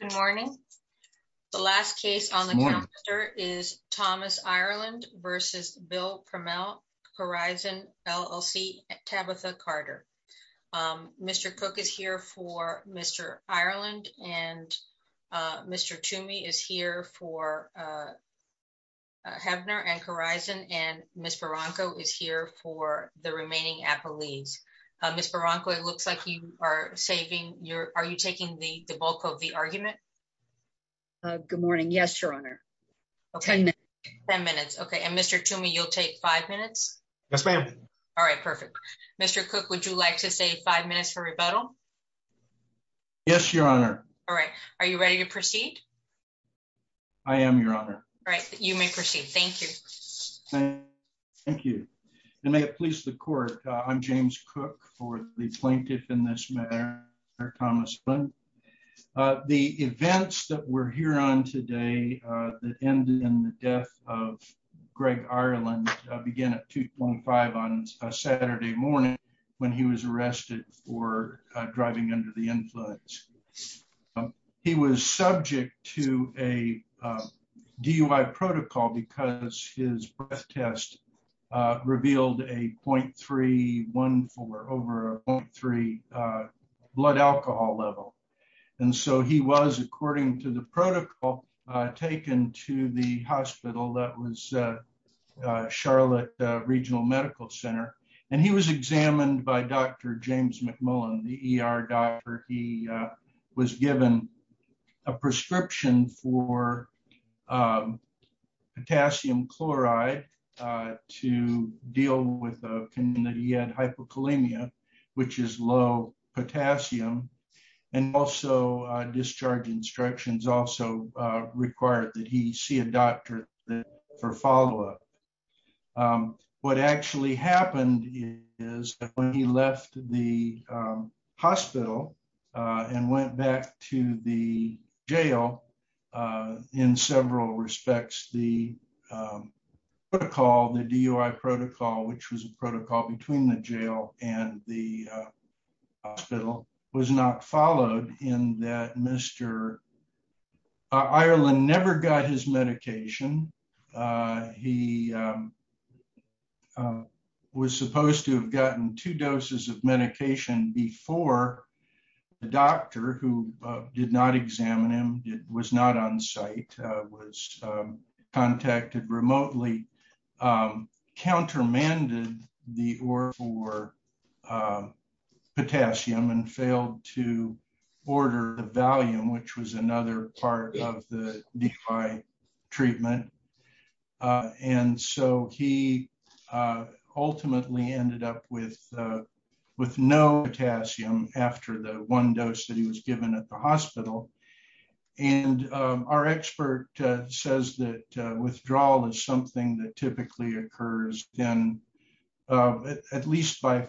Good morning. The last case on the counter is Thomas Ireland v. Bill Prummell, Corizon LLC, Tabitha Carter. Mr. Cook is here for Mr. Ireland, and Mr. Toomey is here for Hebner and Corizon, and Ms. Barranco is here for the remaining Applees. Ms. Barranco, it looks like you are taking the bulk of the argument. Good morning. Yes, Your Honor. Ten minutes. Ten minutes. Okay. And Mr. Toomey, you'll take five minutes? Yes, ma'am. All right. Perfect. Mr. Cook, would you like to say five minutes for rebuttal? Yes, Your Honor. All right. Are you ready to proceed? I am, Your Honor. All right. You may proceed. Thank you. Thank you. And may it please the court, I'm James Cook for the plaintiff in this matter, Thomas Flynn. The events that we're here on today that ended in the death of Greg Ireland began at 2.5 on Saturday morning when he was arrested for driving under the influence. He was subject to a DUI protocol because his breath test revealed a .314 over a .3 blood alcohol level. And so he was, according to the protocol, taken to the hospital that was Charlotte Regional Medical Center, and he was examined by Dr. James McMullen, the ER doctor. He was given a prescription for potassium chloride to deal with a community had hypokalemia, which is low potassium. And also discharge instructions also required that he see a doctor for follow up. What actually happened is that when he left the hospital and went back to the jail in several respects, the protocol, the DUI protocol, which was a protocol between the jail and the hospital, was not followed in that Mr. Ireland never got his medication. He was supposed to have gotten two doses of medication before the doctor who did not examine him. It was not on site, was contacted remotely, countermanded the OR for potassium and failed to order the Valium, which was another part of the DUI treatment. And so he ultimately ended up with no potassium after the one dose that he was given at the hospital. And our expert says that withdrawal is something that typically occurs then at least by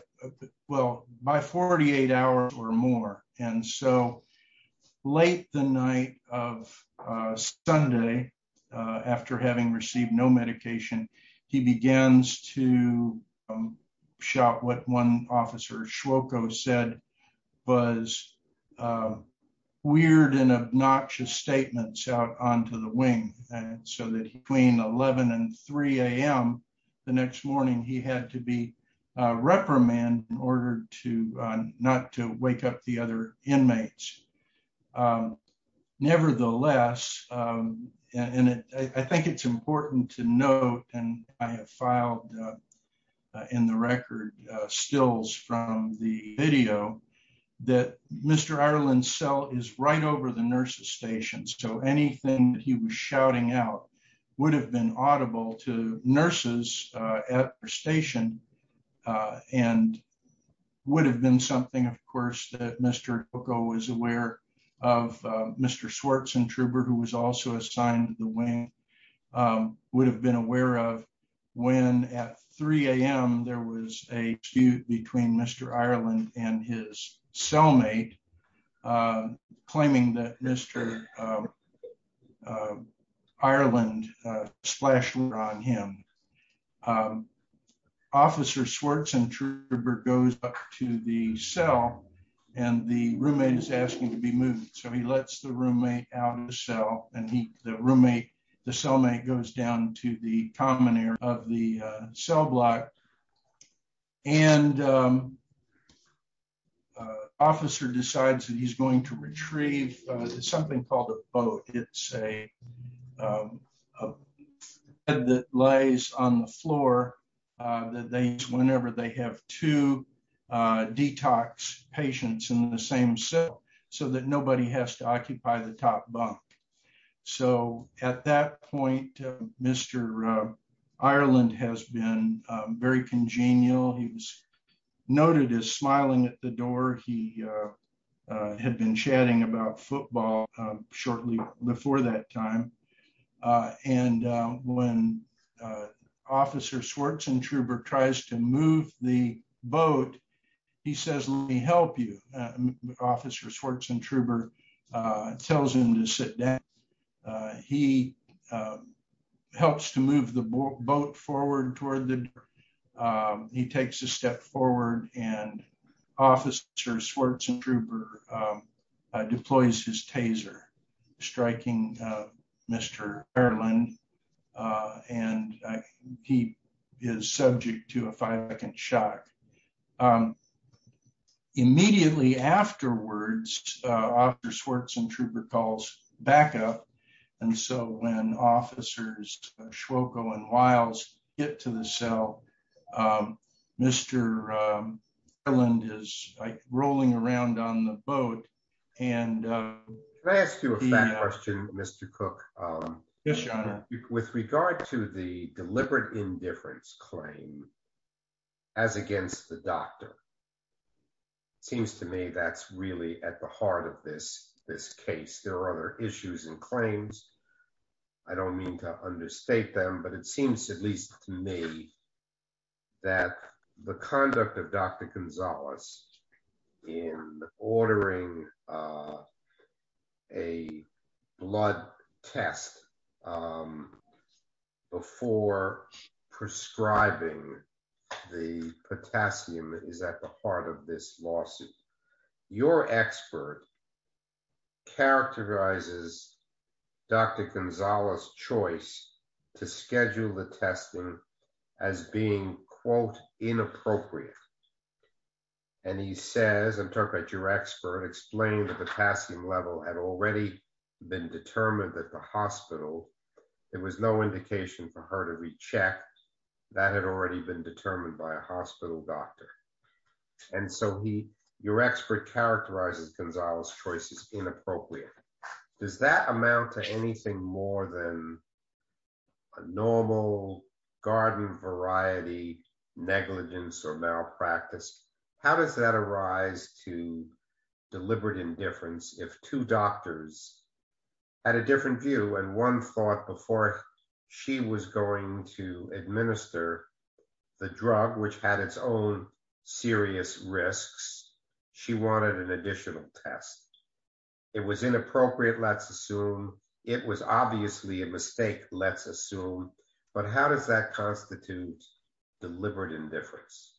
well by 48 hours or more. And so late the night of Sunday, after having received no medication, he begins to shout what one officer, Shwoko, said was weird and obnoxious statements out onto the wing. So that between 11 and 3 a.m. the next morning, he had to be reprimanded in order to not to wake up the other inmates. Nevertheless, and I think it's important to note, and I have filed in the record stills from the video, that Mr. It would have been something, of course, that Mr. Shwoko was aware of. Mr. Swartz and Truber, who was also assigned to the wing, would have been aware of when at 3 a.m. there was a dispute between Mr. Ireland and his cellmate, claiming that Mr. Ireland splashed water on him. Officer Swartz and Truber goes up to the cell and the roommate is asking to be moved. So he lets the roommate out of the cell and the cellmate goes down to the common area of the cell block. And officer decides that he's going to retrieve something called a boat. It's a bed that lays on the floor that they use whenever they have two detox patients in the same cell so that nobody has to occupy the top bunk. So at that point, Mr. Ireland has been very congenial. He was noted as smiling at the door. He had been chatting about football shortly before that time. And when officer Swartz and Truber tries to move the boat, he says, let me help you. Officer Swartz and Truber tells him to sit down. He helps to move the boat forward toward the door. He takes a step forward and officer Swartz and Truber deploys his taser, striking Mr. Ireland. And he is subject to a five second shock. Immediately afterwards, officer Swartz and Truber calls backup. And so when officers Swoco and Wiles get to the cell, Mr. Ireland is rolling around on the boat and Can I ask you a question, Mr. Cook? Yes, your honor. With regard to the deliberate indifference claim as against the doctor, seems to me that's really at the heart of this case. There are other issues and claims. I don't mean to understate them, but it seems at least to me that the conduct of Dr. Gonzalez in ordering a blood test before prescribing the potassium is at the heart of this lawsuit. Your expert characterizes Dr. Gonzalez choice to schedule the testing as being, quote, inappropriate. And he says, interpret your expert explained that the potassium level had already been determined that the hospital, there was no indication for her to recheck that had already been determined by a hospital doctor. And so he, your expert characterizes Gonzalez choice is inappropriate. Does that amount to anything more than a normal garden variety negligence or malpractice? How does that arise to deliberate indifference if two doctors at a different view and one thought before she was going to administer the drug, which had its own serious risks, she wanted an additional test. It was inappropriate. Let's assume it was obviously a mistake. Let's assume. But how does that constitute deliberate indifference?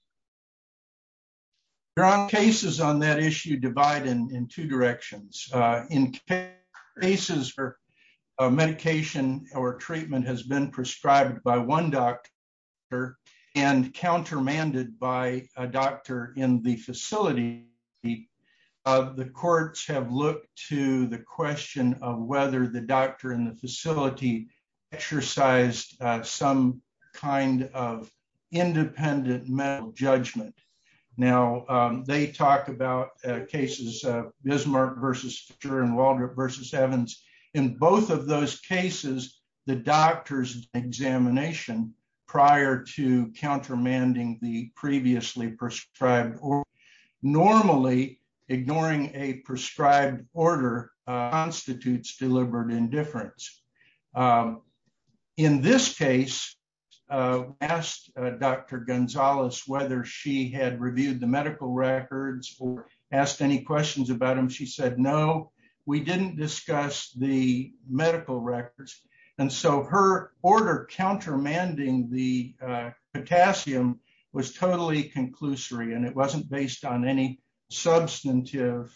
There are cases on that issue divide in two directions in cases for medication or treatment has been prescribed by one doctor and countermanded by a doctor in the facility. The courts have looked to the question of whether the doctor in the facility exercised some kind of independent mental judgment. Now, they talk about cases of Bismarck versus Walter versus Evans in both of those cases. The doctor's examination prior to countermanding the previously prescribed or normally ignoring a prescribed order constitutes deliberate indifference. In this case, asked Dr. Gonzalez whether she had reviewed the medical records or asked any questions about him. She said, No, we didn't discuss the medical records. And so her order countermanding the potassium was totally conclusory and it wasn't based on any substantive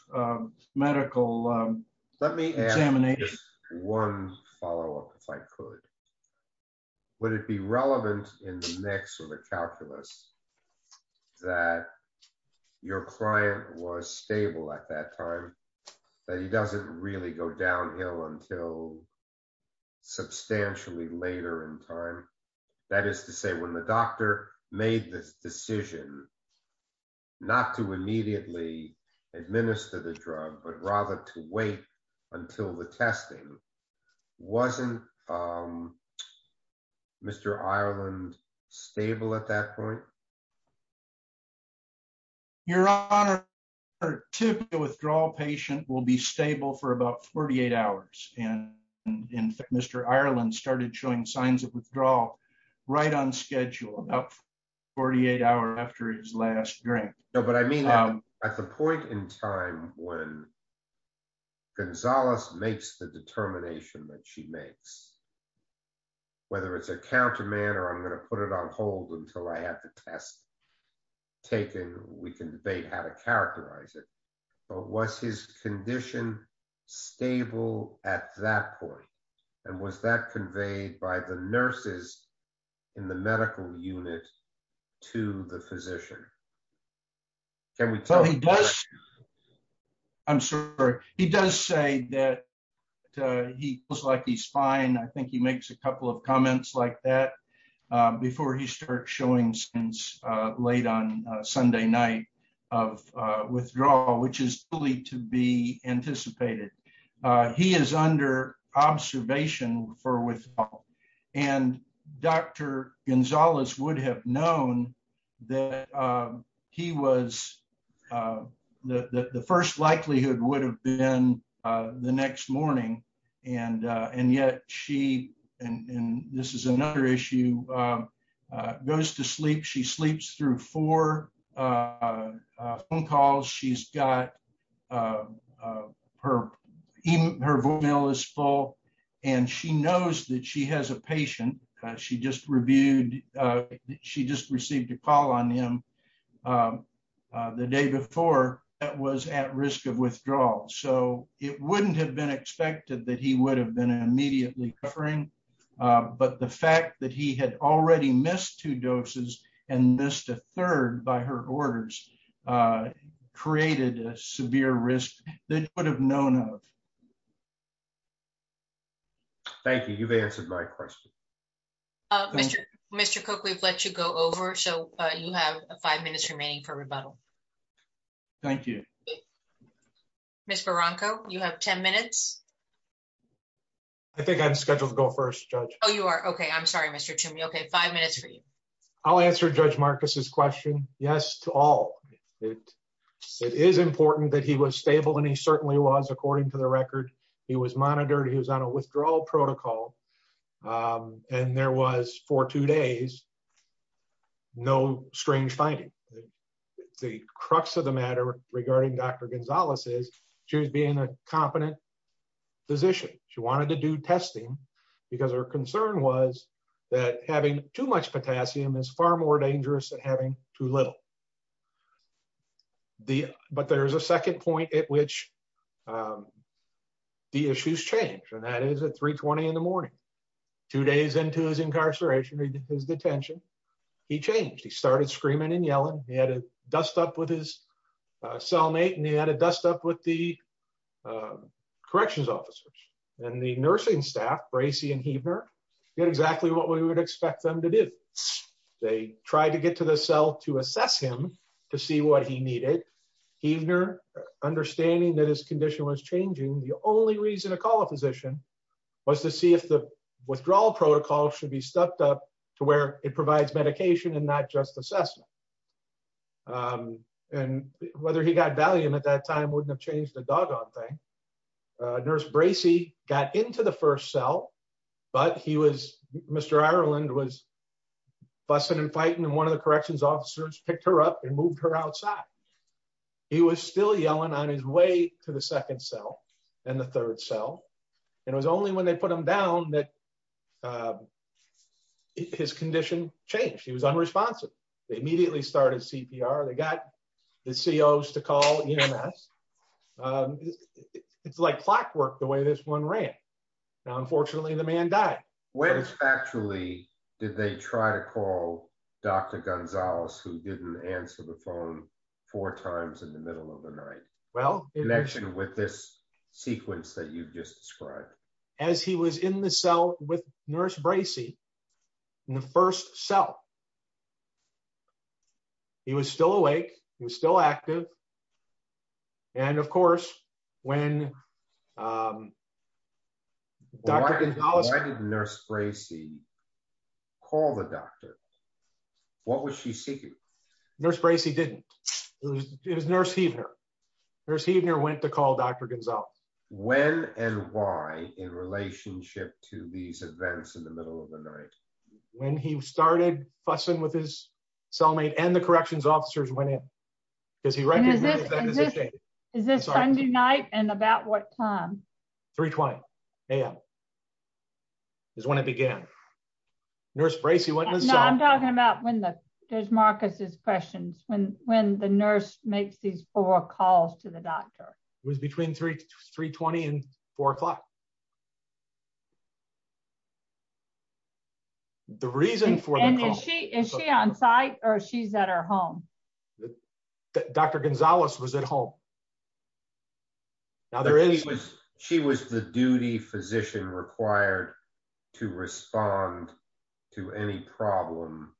medical. Let me examine one follow up if I could. Would it be relevant in the next sort of calculus that your client was stable at that time that he doesn't really go downhill until substantially later in time. That is to say, when the doctor made this decision, not to immediately administer the drug, but rather to wait until the testing wasn't Mr. Ireland stable at that point. Your Honor, to the withdrawal patient will be stable for about 48 hours. And in fact, Mr. Ireland started showing signs of withdrawal right on schedule about 48 hours after his last drink. No, but I mean, at the point in time when Gonzalez makes the determination that she makes. Whether it's a counterman or I'm going to put it on hold until I have the test taken, we can debate how to characterize it, but what's his condition stable at that point. And was that conveyed by the nurses in the medical unit to the physician. Every time he does. I'm sorry. He does say that he feels like he's fine. I think he makes a couple of comments like that before he starts showing since late on Sunday night of withdrawal, which is to be anticipated. He is under observation for withdrawal and Dr. Gonzalez would have known that he was The first likelihood would have been the next morning and and yet she and this is another issue. Goes to sleep. She sleeps through four Phone calls. She's got Her email is full and she knows that she has a patient. She just reviewed. She just received a call on him. The day before that was at risk of withdrawal. So it wouldn't have been expected that he would have been immediately covering but the fact that he had already missed two doses and missed a third by her orders. Created a severe risk that would have known of Thank you. You've answered my question. Mr. Mr. Cook. We've let you go over. So you have five minutes remaining for rebuttal. Thank you. Mr. Bronco you have 10 minutes I think I'm scheduled to go first judge. Oh, you are. Okay. I'm sorry, Mr. To me. Okay, five minutes for you. I'll answer Judge Marcus's question. Yes, to all. It is important that he was stable and he certainly was, according to the record, he was monitored. He was on a withdrawal protocol. And there was for two days. No strange finding The crux of the matter regarding Dr. Gonzalez is she was being a competent physician. She wanted to do testing because her concern was that having too much potassium is far more dangerous than having too little The, but there's a second point at which The issues change. And that is a 320 in the morning, two days into his incarceration. He did his detention. He changed. He started screaming and yelling. He had a dust up with his cellmate and he had a dust up with the Even her understanding that his condition was changing. The only reason to call a physician was to see if the withdrawal protocol should be stepped up to where it provides medication and not just assessment. And whether he got valium at that time wouldn't have changed the doggone thing nurse Bracey got into the first cell, but he was Mr. Ireland was busting and fighting and one of the corrections officers picked her up and moved her outside. He was still yelling on his way to the second cell and the third cell and was only when they put them down that His condition changed. He was unresponsive. They immediately started CPR. They got the CEOs to call us It's like clockwork. The way this one ran. Now, unfortunately, the man died. When actually, did they try to call Dr. Gonzalez who didn't answer the phone four times in the middle of the night. Well, connection with this sequence that you've just described as he was in the cell with nurse Bracey in the first cell. He was still awake, he was still active. And of course, when Dr. Gonzalez nurse Gracie. Call the doctor. What was she seeking nurse Bracey didn't It was nurse either nurse evening or went to call Dr. Gonzalez. When and why, in relationship to these events in the middle of the night when he started fussing with his cellmate and the corrections officers when it Is this Sunday night and about what time 320 am Is when it began. Nurse Bracey what I'm talking about when the there's Marcus's questions when when the nurse makes these four calls to the doctor was between three 320 and four o'clock. The reason for the issue on site or she's at her home. Dr. Gonzalez was at home. Now there is was She was the duty physician required to respond to any problem.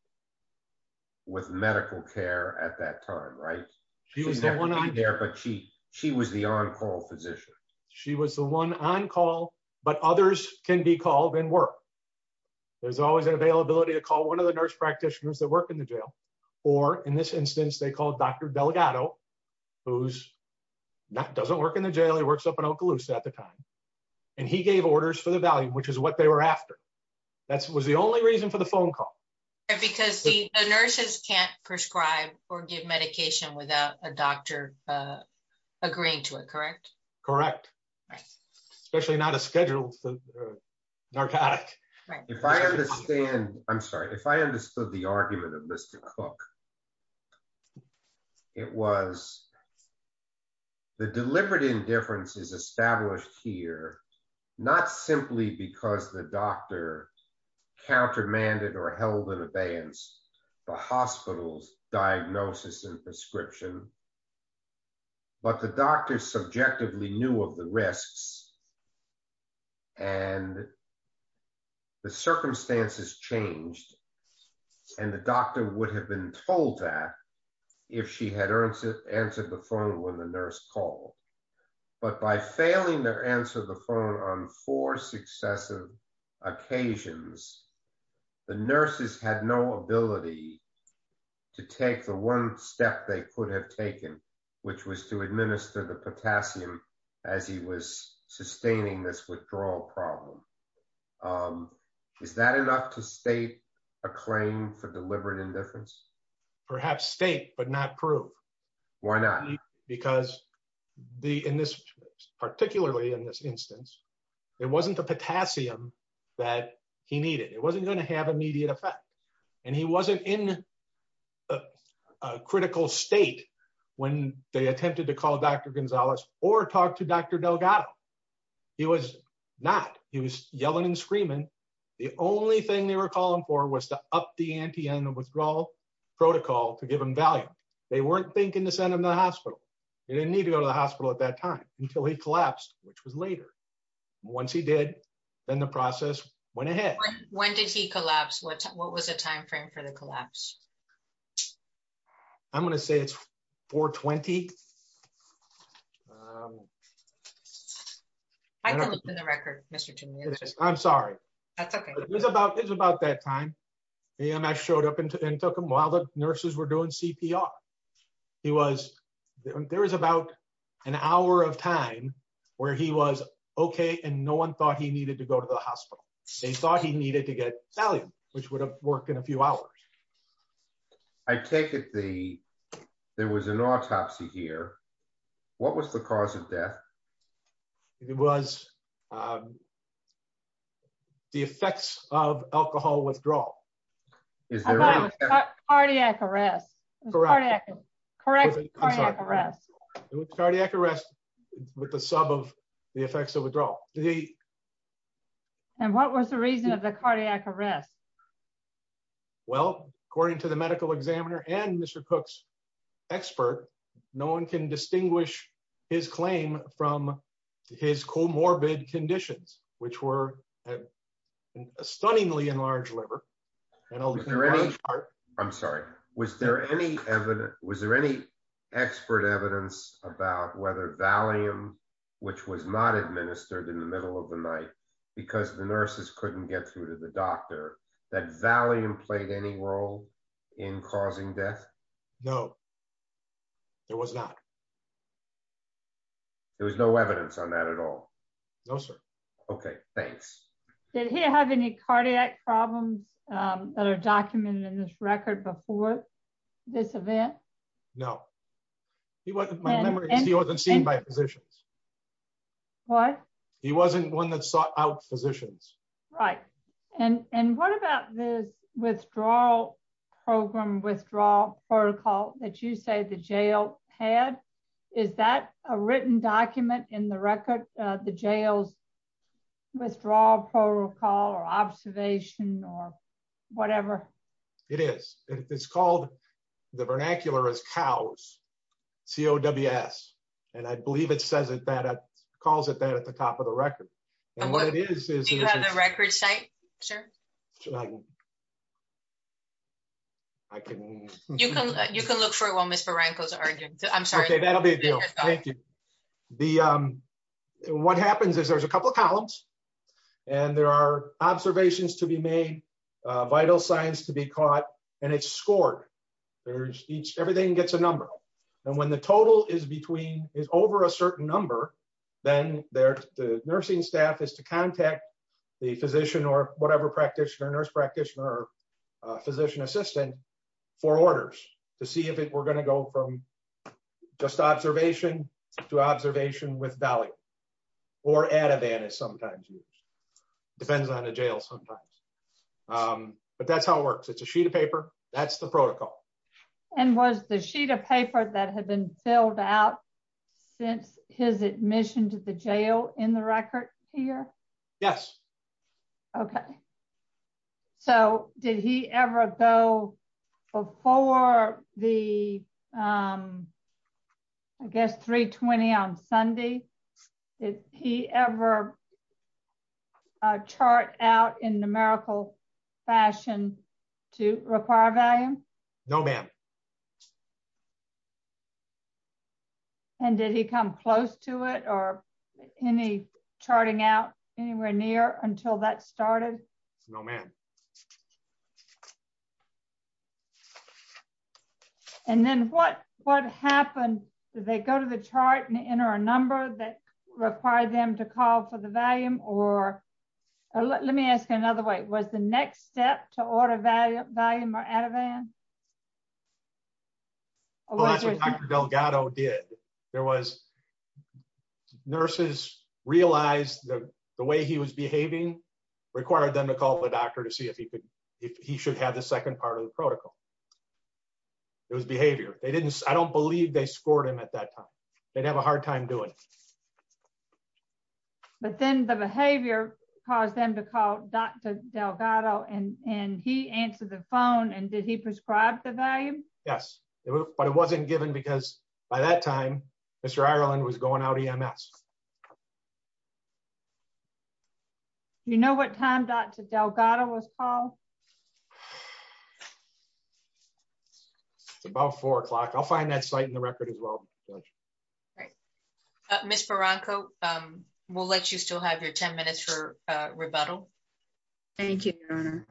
With medical care at that time. Right. She was the one on there, but she she was the on call physician. She was the one on call, but others can be called in work. There's always an availability to call one of the nurse practitioners that work in the jail, or in this instance they called Dr. Delgado, who's not doesn't work in the jail he works up in Okaloosa at the time. And he gave orders for the value which is what they were after. That's was the only reason for the phone call. Because the nurses can't prescribe or give medication without a doctor. Agreed to it. Correct. Correct. Especially not a scheduled narcotic. If I understand, I'm sorry if I understood the argument of Mr. Cook. It was the deliberate indifference is established here, not simply because the doctor countermanded or held in abeyance. The hospital's diagnosis and prescription. But the doctors subjectively knew of the risks. And the circumstances changed. And the doctor would have been told that if she had earned to answer the phone when the nurse call. But by failing to answer the phone on four successive occasions. The nurses had no ability to take the one step they could have taken, which was to administer the potassium, as he was sustaining this withdrawal problem. Is that enough to state a claim for deliberate indifference, perhaps state but not prove. Why not? Because the in this particularly in this instance, it wasn't the potassium that he needed. It wasn't going to have immediate effect. And he wasn't in a critical state when they attempted to call Dr. Gonzalez or talk to Dr. Delgado. He was not. He was yelling and screaming. The only thing they were calling for was to up the ante and the withdrawal protocol to give him value. They weren't thinking to send him to the hospital. He didn't need to go to the hospital at that time until he collapsed, which was later. Once he did, then the process went ahead. When did he collapse? What was the timeframe for the collapse? I'm going to say it's 420. I don't know the record, Mr. I'm sorry. It's about it's about that time. And I showed up and took him while the nurses were doing CPR. He was there was about an hour of time where he was OK and no one thought he needed to go to the hospital. They thought he needed to get value, which would have worked in a few hours. I take it the there was an autopsy here. What was the cause of death? It was. The effects of alcohol withdrawal. Is there a cardiac arrest? Correct. Correct. Cardiac arrest with the sub of the effects of withdrawal. And what was the reason of the cardiac arrest? Well, according to the medical examiner and Mr. Cook's expert, no one can distinguish his claim from his comorbid conditions, which were stunningly enlarged liver. I'm sorry. Was there any was there any expert evidence about whether Valium, which was not administered in the middle of the night because the nurses couldn't get through to the doctor that value played any role in causing death? No, there was not. There was no evidence on that at all. No, sir. OK, thanks. Did he have any cardiac problems that are documented in this record before this event? No, he wasn't. He wasn't seen by physicians. What? He wasn't one that sought out physicians. Right. And what about this withdrawal program withdrawal protocol that you say the jail had? Is that a written document in the record? The jail's withdrawal protocol or observation or whatever? It is. It's called the vernacular as cows. C.O.W.S. And I believe it says it that calls it that at the top of the record. And what it is, is you have a record site. Sure. I can. You can you can look for it while Mr. Ranko's arguing. I'm sorry. That'll be a deal. Thank you. The what happens is there's a couple of columns and there are observations to be made, vital signs to be caught and it's scored. There's each everything gets a number. And when the total is between is over a certain number, then they're the nursing staff is to contact the physician or whatever practitioner nurse practitioner physician assistant for orders to see if we're going to go from just observation to observation with value or at a van is sometimes depends on the jail sometimes. But that's how it works. It's a sheet of paper. That's the protocol. And was the sheet of paper that had been filled out since his admission to the jail in the record here. Yes. Okay. So, did he ever go before the. I guess 320 on Sunday. If he ever chart out in numerical fashion to require value. No, ma'am. And did he come close to it or any charting out anywhere near until that started. No, man. And then what, what happened, they go to the chart and enter a number that required them to call for the volume, or let me ask another way was the next step to order value, value or out of van. Delgado did. There was nurses realized that the way he was behaving required them to call the doctor to see if he could, he should have the second part of the protocol. It was behavior, they didn't, I don't believe they scored him at that time. They'd have a hard time doing. But then the behavior, cause them to call Dr. Delgado and and he answered the phone and did he prescribe the value. Yes, it was, but it wasn't given because by that time, Mr Ireland was going out ems. You know what time Dr Delgado was Paul. It's about four o'clock I'll find that site in the record as well. Right. Mr Bronco will let you still have your 10 minutes for rebuttal. Thank you. Thank you, Your Honor.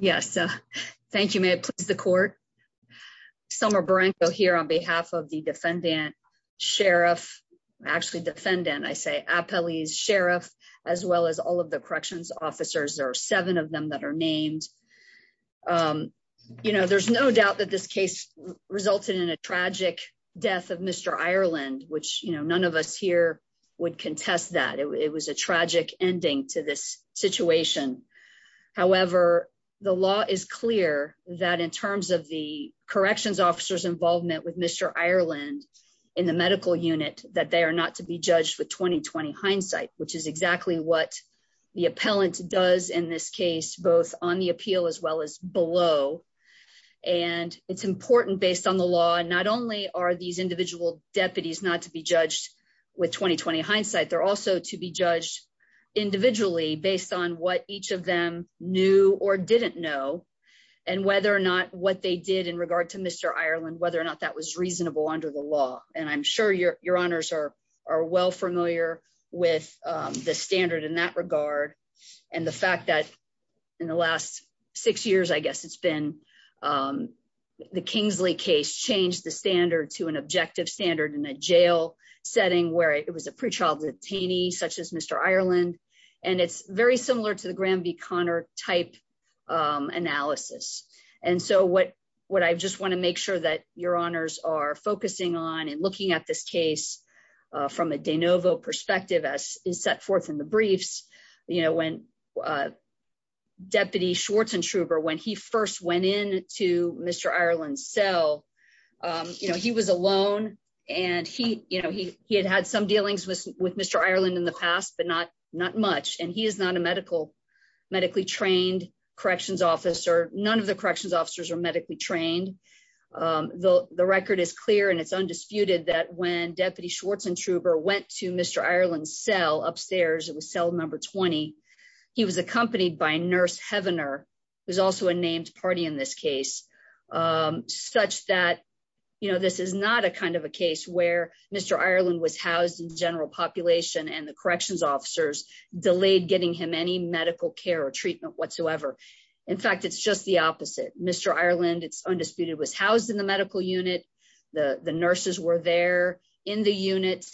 Yes. Thank you. May it please the court. Summer Branko here on behalf of the defendant. Sheriff actually defendant I say a police sheriff, as well as all of the corrections officers are seven of them that are named. You know there's no doubt that this case resulted in a tragic death of Mr Ireland, which you know none of us here would contest that it was a tragic ending to this situation. However, the law is clear that in terms of the corrections officers involvement with Mr Ireland in the medical unit that they are not to be judged with 2020 hindsight, which is exactly what the appellant does in this case, both on the appeal as well as below. And it's important based on the law and not only are these individual deputies not to be judged with 2020 hindsight they're also to be judged individually based on what each of them knew or didn't know, and whether or not what they did in regard to Mr Ireland whether or not that was reasonable under the law, and I'm sure your, your honors are are well familiar with the standard in that regard. And the fact that in the last six years I guess it's been the Kingsley case changed the standard to an objective standard in a jail setting where it was a pre childhood teeny such as Mr Ireland. And, and it's very similar to the Graham v Connor type analysis. And so what, what I just want to make sure that your honors are focusing on and looking at this case from a de novo perspective as is set forth in the briefs, you know when deputy when he first went in to Mr Ireland so he was alone, and he, you know, he, he had had some dealings with with Mr Ireland in the past but not, not much and he is not a medical medically trained corrections officer, none of the corrections officers are medically The record is clear and it's undisputed that when deputy Schwartz and trooper went to Mr Ireland cell upstairs it was cell number 20. He was accompanied by a nurse Heavener was also a named party in this case, such that you know this is not a kind of was housed in the medical unit. The, the nurses were there in the unit,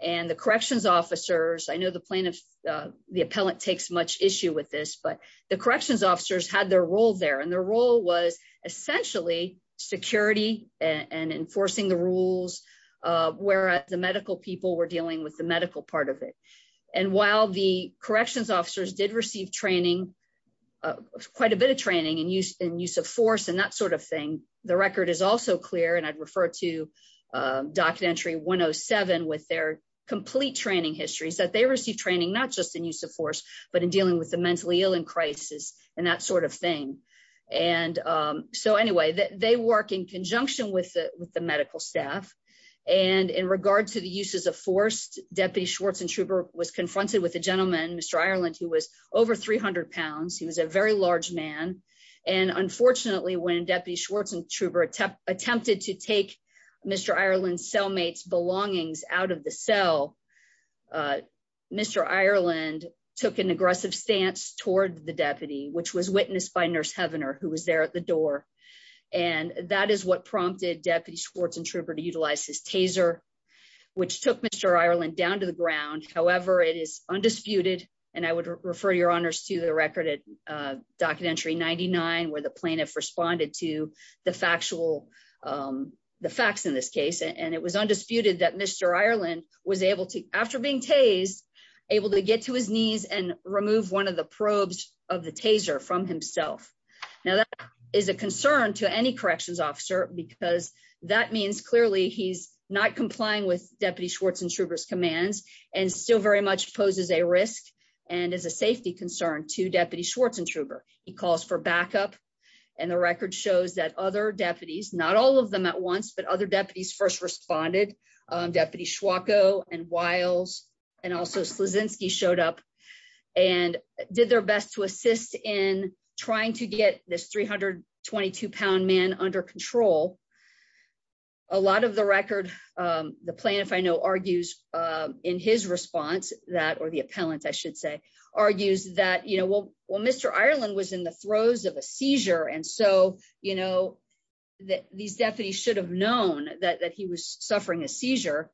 and the corrections officers I know the plaintiff. The appellant takes much issue with this but the corrections officers had their role there and their role was essentially security and enforcing the rules, where the medical people were dealing with the medical part of it. And while the corrections officers did receive training. Quite a bit of training and use and use of force and that sort of thing. The record is also clear and I'd refer to documentary 107 with their complete training histories that they receive training not just in use of force, but in dealing with the mentally and that sort of thing. And so anyway that they work in conjunction with the, with the medical staff, and in regard to the uses of forced deputy Schwartz and trooper was confronted with a gentleman Mr Ireland who was over 300 pounds he was a very large man. And unfortunately when deputy Schwartz and trooper attempt attempted to take Mr Ireland cellmates belongings out of the cell. Mr Ireland took an aggressive stance toward the deputy which was witnessed by nurse Heavener who was there at the door. And that is what prompted deputy Schwartz and trooper to utilize his taser, which took Mr Ireland down to the ground, however it is undisputed, and I would refer your honors to the record it documentary 99 where the plaintiff responded to the factual. The facts in this case and it was undisputed that Mr Ireland was able to after being tased able to get to his knees and remove one of the probes of the taser from himself. Now that is a concern to any corrections officer, because that means clearly he's not complying with deputy Schwartz and troopers commands and still very much poses a risk, and as a safety concern to deputy Schwartz and trooper, he calls for backup. And the record shows that other deputies, not all of them at once but other deputies first responded. Deputy Schwartz and Wiles, and also Slusinski showed up and did their best to assist in trying to get this 322 pound man under control. A lot of the record. The plan if I know argues in his response that or the appellant I should say argues that you know well well Mr Ireland was in the throes of a seizure and so you know that these deputies should have known that he was suffering a seizure.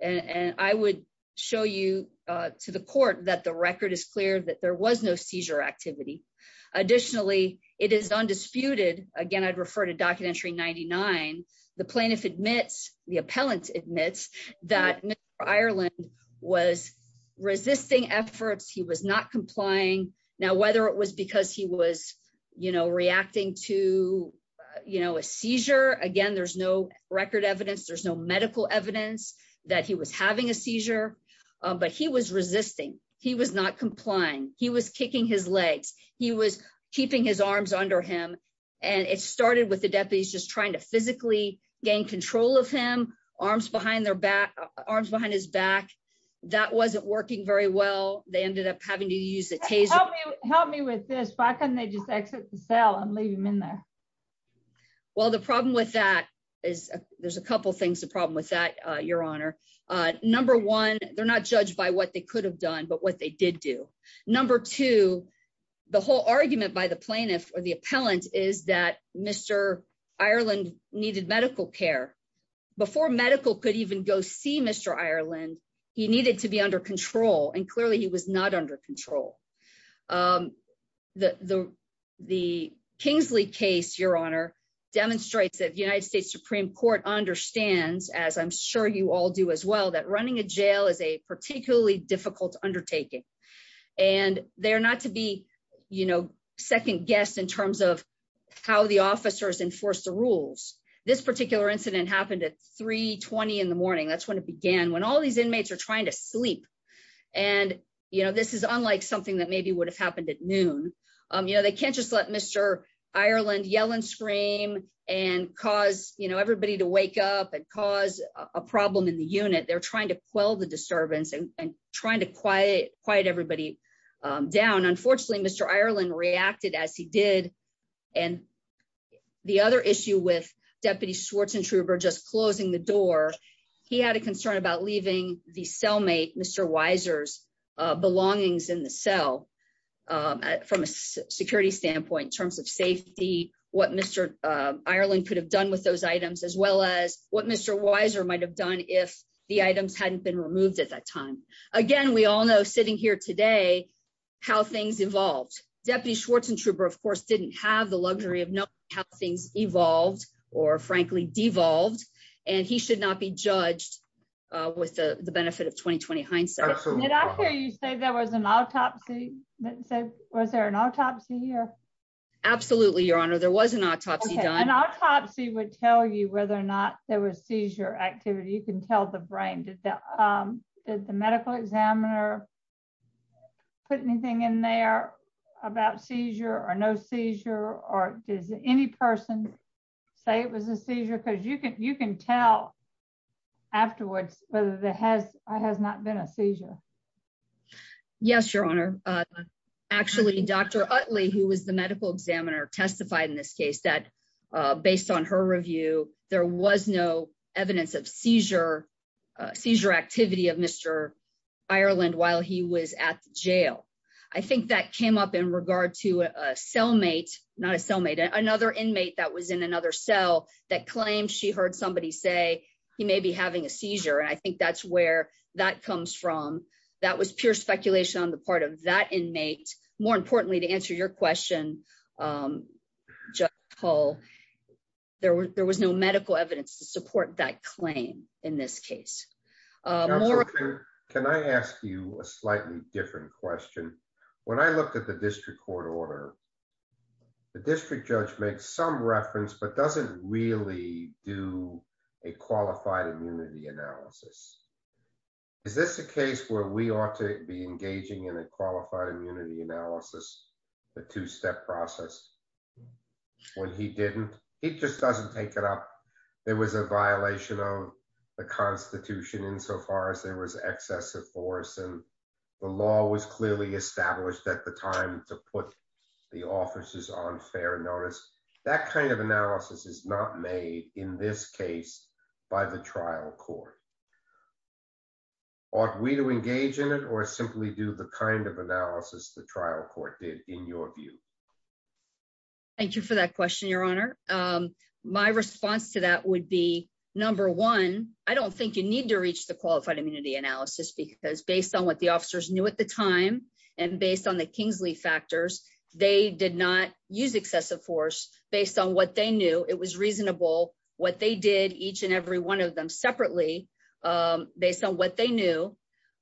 And I would show you to the court that the record is clear that there was no seizure activity. Additionally, it is undisputed, again I'd refer to documentary 99, the plaintiff admits the appellant admits that Ireland was resisting efforts he was not having a seizure, but he was resisting, he was not complying, he was kicking his legs, he was keeping his arms under him. And it started with the deputies just trying to physically gain control of him, arms behind their back, arms behind his back. That wasn't working very well, they ended up having to use it. Help me with this, why couldn't they just exit the cell and leave him in there. Well the problem with that is, there's a couple things the problem with that, Your Honor. Number one, they're not judged by what they could have done but what they did do. Number two, the whole argument by the plaintiff or the appellant is that Mr. Ireland needed medical care before medical could even go see Mr Ireland, he needed to be under control and clearly he was not under control. The Kingsley case, Your Honor, demonstrates that the United States Supreme Court understands as I'm sure you all do as well that running a jail is a particularly difficult undertaking. And they're not to be, you know, second guess in terms of how the officers enforce the rules. This particular incident happened at 320 in the morning that's when it began when all these inmates are trying to sleep. And, you know, this is unlike something that maybe would have happened at noon. You know they can't just let Mr. Ireland yelling scream and cause you know everybody to wake up and cause a problem in the unit they're trying to quell the disturbance and trying to quiet, quiet everybody down unfortunately Mr Ireland reacted as he did. And the other issue with Deputy Schwartz and Truber just closing the door. He had a concern about leaving the cellmate Mr Weiser's belongings in the cell from a security standpoint in terms of safety, what Mr. Weiser might have done if the items hadn't been removed at that time. Again, we all know sitting here today, how things evolved Deputy Schwartz and Trouber of course didn't have the luxury of know how things evolved, or frankly devolved, and he should not be you can tell the brain that the medical examiner put anything in there about seizure or no seizure, or does any person say it was a seizure because you can you can tell afterwards, whether there has or has not been a seizure. Yes, Your Honor. Actually, Dr. Utley who was the medical examiner testified in this case that, based on her review, there was no evidence of seizure seizure activity of Mr. Ireland while he was at jail. I think that came up in regard to a cellmate, not a cellmate another inmate that was in another cell that claim she heard somebody say he may be having a seizure and I think that's where that comes from. That was pure speculation on the part of that inmate. More importantly, to answer your question, Paul, there was there was no medical evidence to support that claim. In this case, can I ask you a slightly different question. When I looked at the district court order. The district judge makes some reference but doesn't really do a qualified immunity analysis. Is this a case where we ought to be engaging in a qualified immunity analysis, the two step process. When he didn't, it just doesn't take it up. There was a violation of the Constitution insofar as there was excessive force and the law was clearly established at the time to put the offices on fair notice that kind of analysis is not made in this case by the trial court. Are we to engage in it or simply do the kind of analysis the trial court did in your view. Thank you for that question, Your Honor. My response to that would be, number one, I don't think you need to reach the qualified immunity analysis because based on what the officers knew at the time, and based on the Kingsley factors, they did not use excessive force, based on what they knew it was reasonable what they did each and every one of them separately, based on what they knew,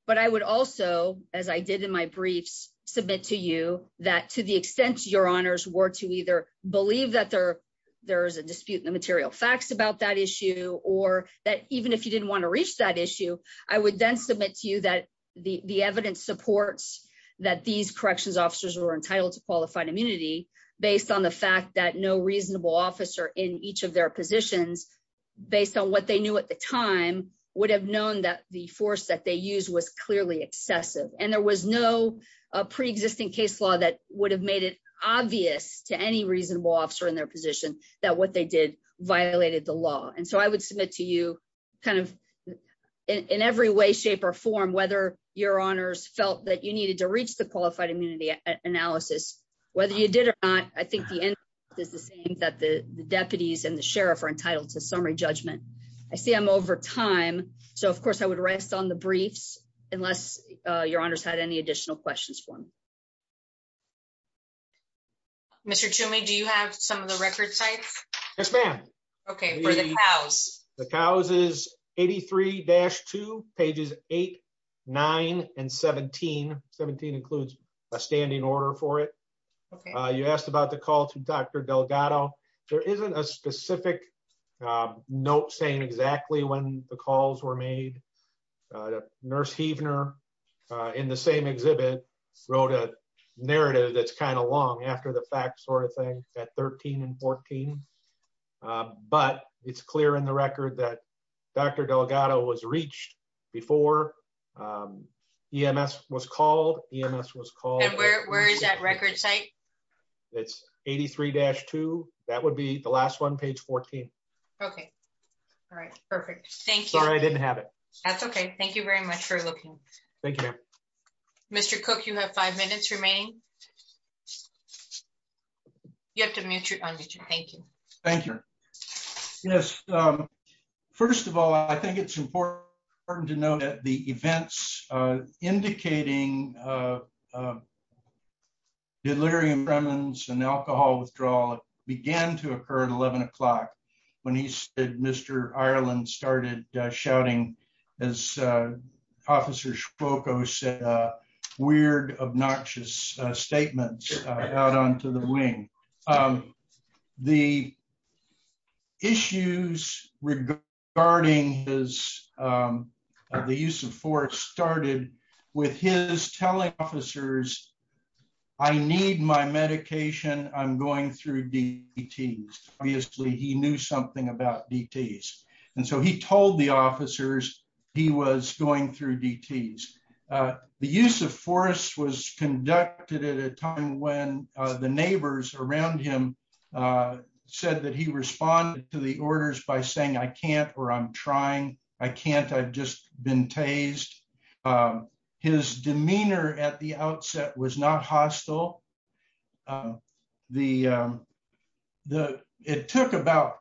but I would also, as I did in my briefs, submit to you that to the extent your honors were to either believe that there, there is a dispute in the material facts about that issue, or that even if you didn't want to reach that issue, I would then submit to you that the evidence supports that these corrections officers were entitled to qualified immunity, based on the fact that no reasonable officer in each of their positions, based on what I would submit to you, kind of, in every way shape or form whether your honors felt that you needed to reach the qualified immunity analysis, whether you did or not, I think the end is the same that the deputies and the sheriff are entitled to summary judgment. I see I'm over time. So of course I would rest on the briefs, unless your honors had any additional questions for me. Mr to me do you have some of the record sites. Yes, ma'am. Okay. The cows is 83 dash two pages, eight, nine and 1717 includes a standing order for it. You asked about the call to Dr Delgado, there isn't a specific note saying exactly when the calls were made. Nurse even are in the same exhibit wrote a narrative that's kind of long after the fact sort of thing at 13 and 14. But it's clear in the record that Dr Delgado was reached before. EMS was called EMS was called. Where is that record site. It's 83 dash two, that would be the last one page 14. Okay. All right. Perfect. Thank you. I didn't have it. That's okay. Thank you very much for looking. Thank you. Mr cook you have five minutes remaining. You have to mute your unmute you. Thank you. Thank you. Yes. First of all, I think it's important to know that the events, indicating delirium remnants and alcohol withdrawal began to occur at 11 o'clock. When he said Mr Ireland started shouting as officers focus weird obnoxious statements out onto the wing. The issues regarding is the use of force started with his telling officers. I need my medication, I'm going through the teams, obviously he knew something about DTS. And so he told the officers, he was going through DTS. The use of force was conducted at a time when the neighbors around him said that he responded to the orders by saying I can't or I'm trying. I can't I've just been tased his demeanor at the outset was not hostile. The, the, it took about.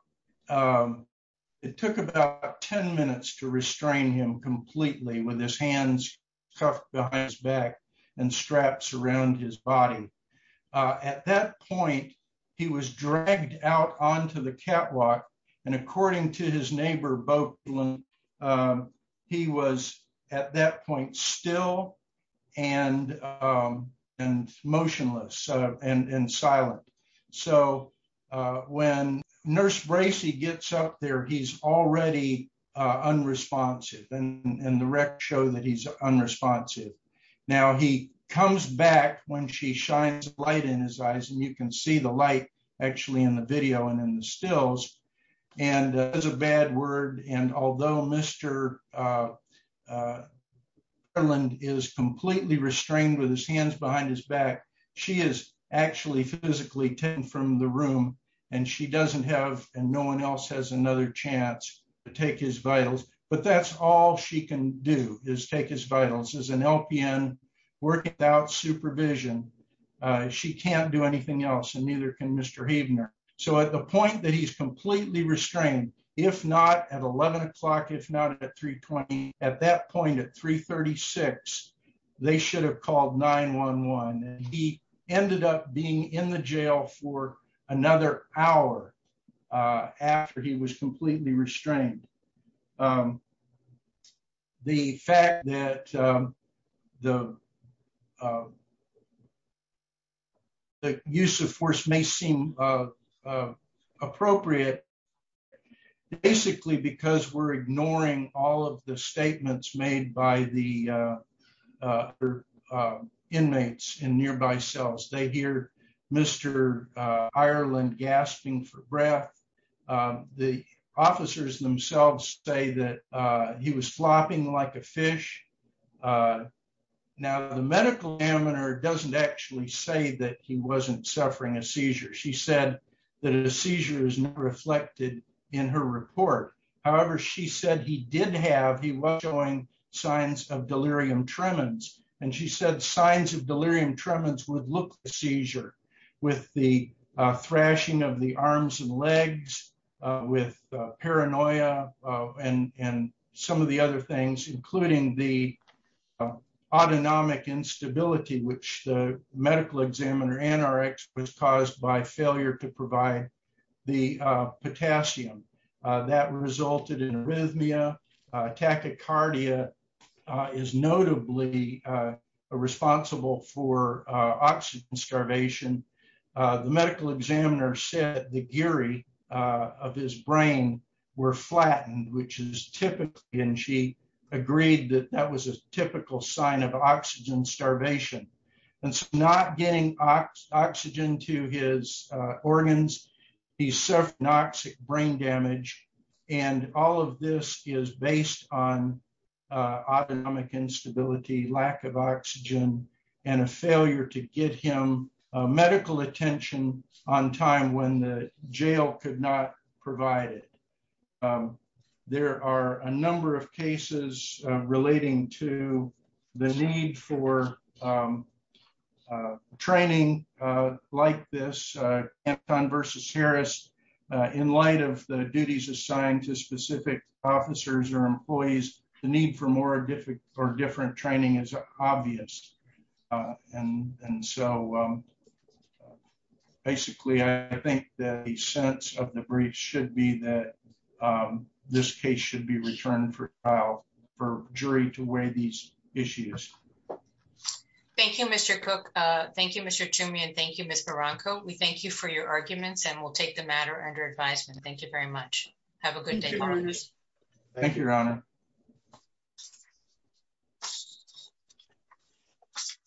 It took about 10 minutes to restrain him completely with his hands cuffed behind his back and straps around his body. At that point, he was dragged out onto the catwalk. And according to his neighbor both. He was at that point still and and motionless and silent. So, when nurse Gracie gets up there he's already unresponsive and the rec show that he's unresponsive. Now he comes back when she shines light in his eyes and you can see the light, actually in the video and in the stills, and there's a bad word and although Mr. Ireland is completely restrained with his hands behind his back. She is actually physically 10 from the room, and she doesn't have, and no one else has another chance to take his vitals, but that's all she can do is take his vitals as an LPN work supervision. She can't do anything else and neither can Mr Havener. So at the point that he's completely restrained, if not at 11 o'clock if not at 320 at that point at 336, they should have called 911, and he ended up being in the jail for another hour. After he was completely restrained. The fact that the use of force may seem appropriate. Basically, because we're ignoring all of the statements made by the inmates in nearby cells they hear Mr. Ireland gasping for breath. The officers themselves say that he was flopping like a fish. Now the medical examiner doesn't actually say that he wasn't suffering a seizure. She said that a seizure is reflected in her report. However, she said he did have he was showing signs of delirium tremens, and she said signs of delirium tremens would look like a seizure with the thrashing of the arms and legs with paranoia, and some of the other things including the autonomic instability which the medical examiner and our experts caused by failure to provide the potassium that resulted in arrhythmia and tachycardia is notably responsible for oxygen starvation. The medical examiner said the Gary of his brain were flattened which is typically and she agreed that that was a typical sign of oxygen starvation, and not getting oxygen to his organs. He suffered noxious brain damage, and all of this is based on autonomic instability lack of oxygen, and a failure to get him medical attention on time when the jail could not provide it. There are a number of cases, relating to the need for training, like this, and fun versus Harris in light of the duties assigned to specific officers or employees, the need for more difficult or different training is obvious. And, and so basically I think that the sense of debris should be that this case should be returned for trial for jury to weigh these issues. Thank you, Mr cook. Thank you, Mr Jimmy and thank you, Mr Bronco we thank you for your arguments and we'll take the matter under advisement, thank you very much. Have a good day. Thank you, Your Honor.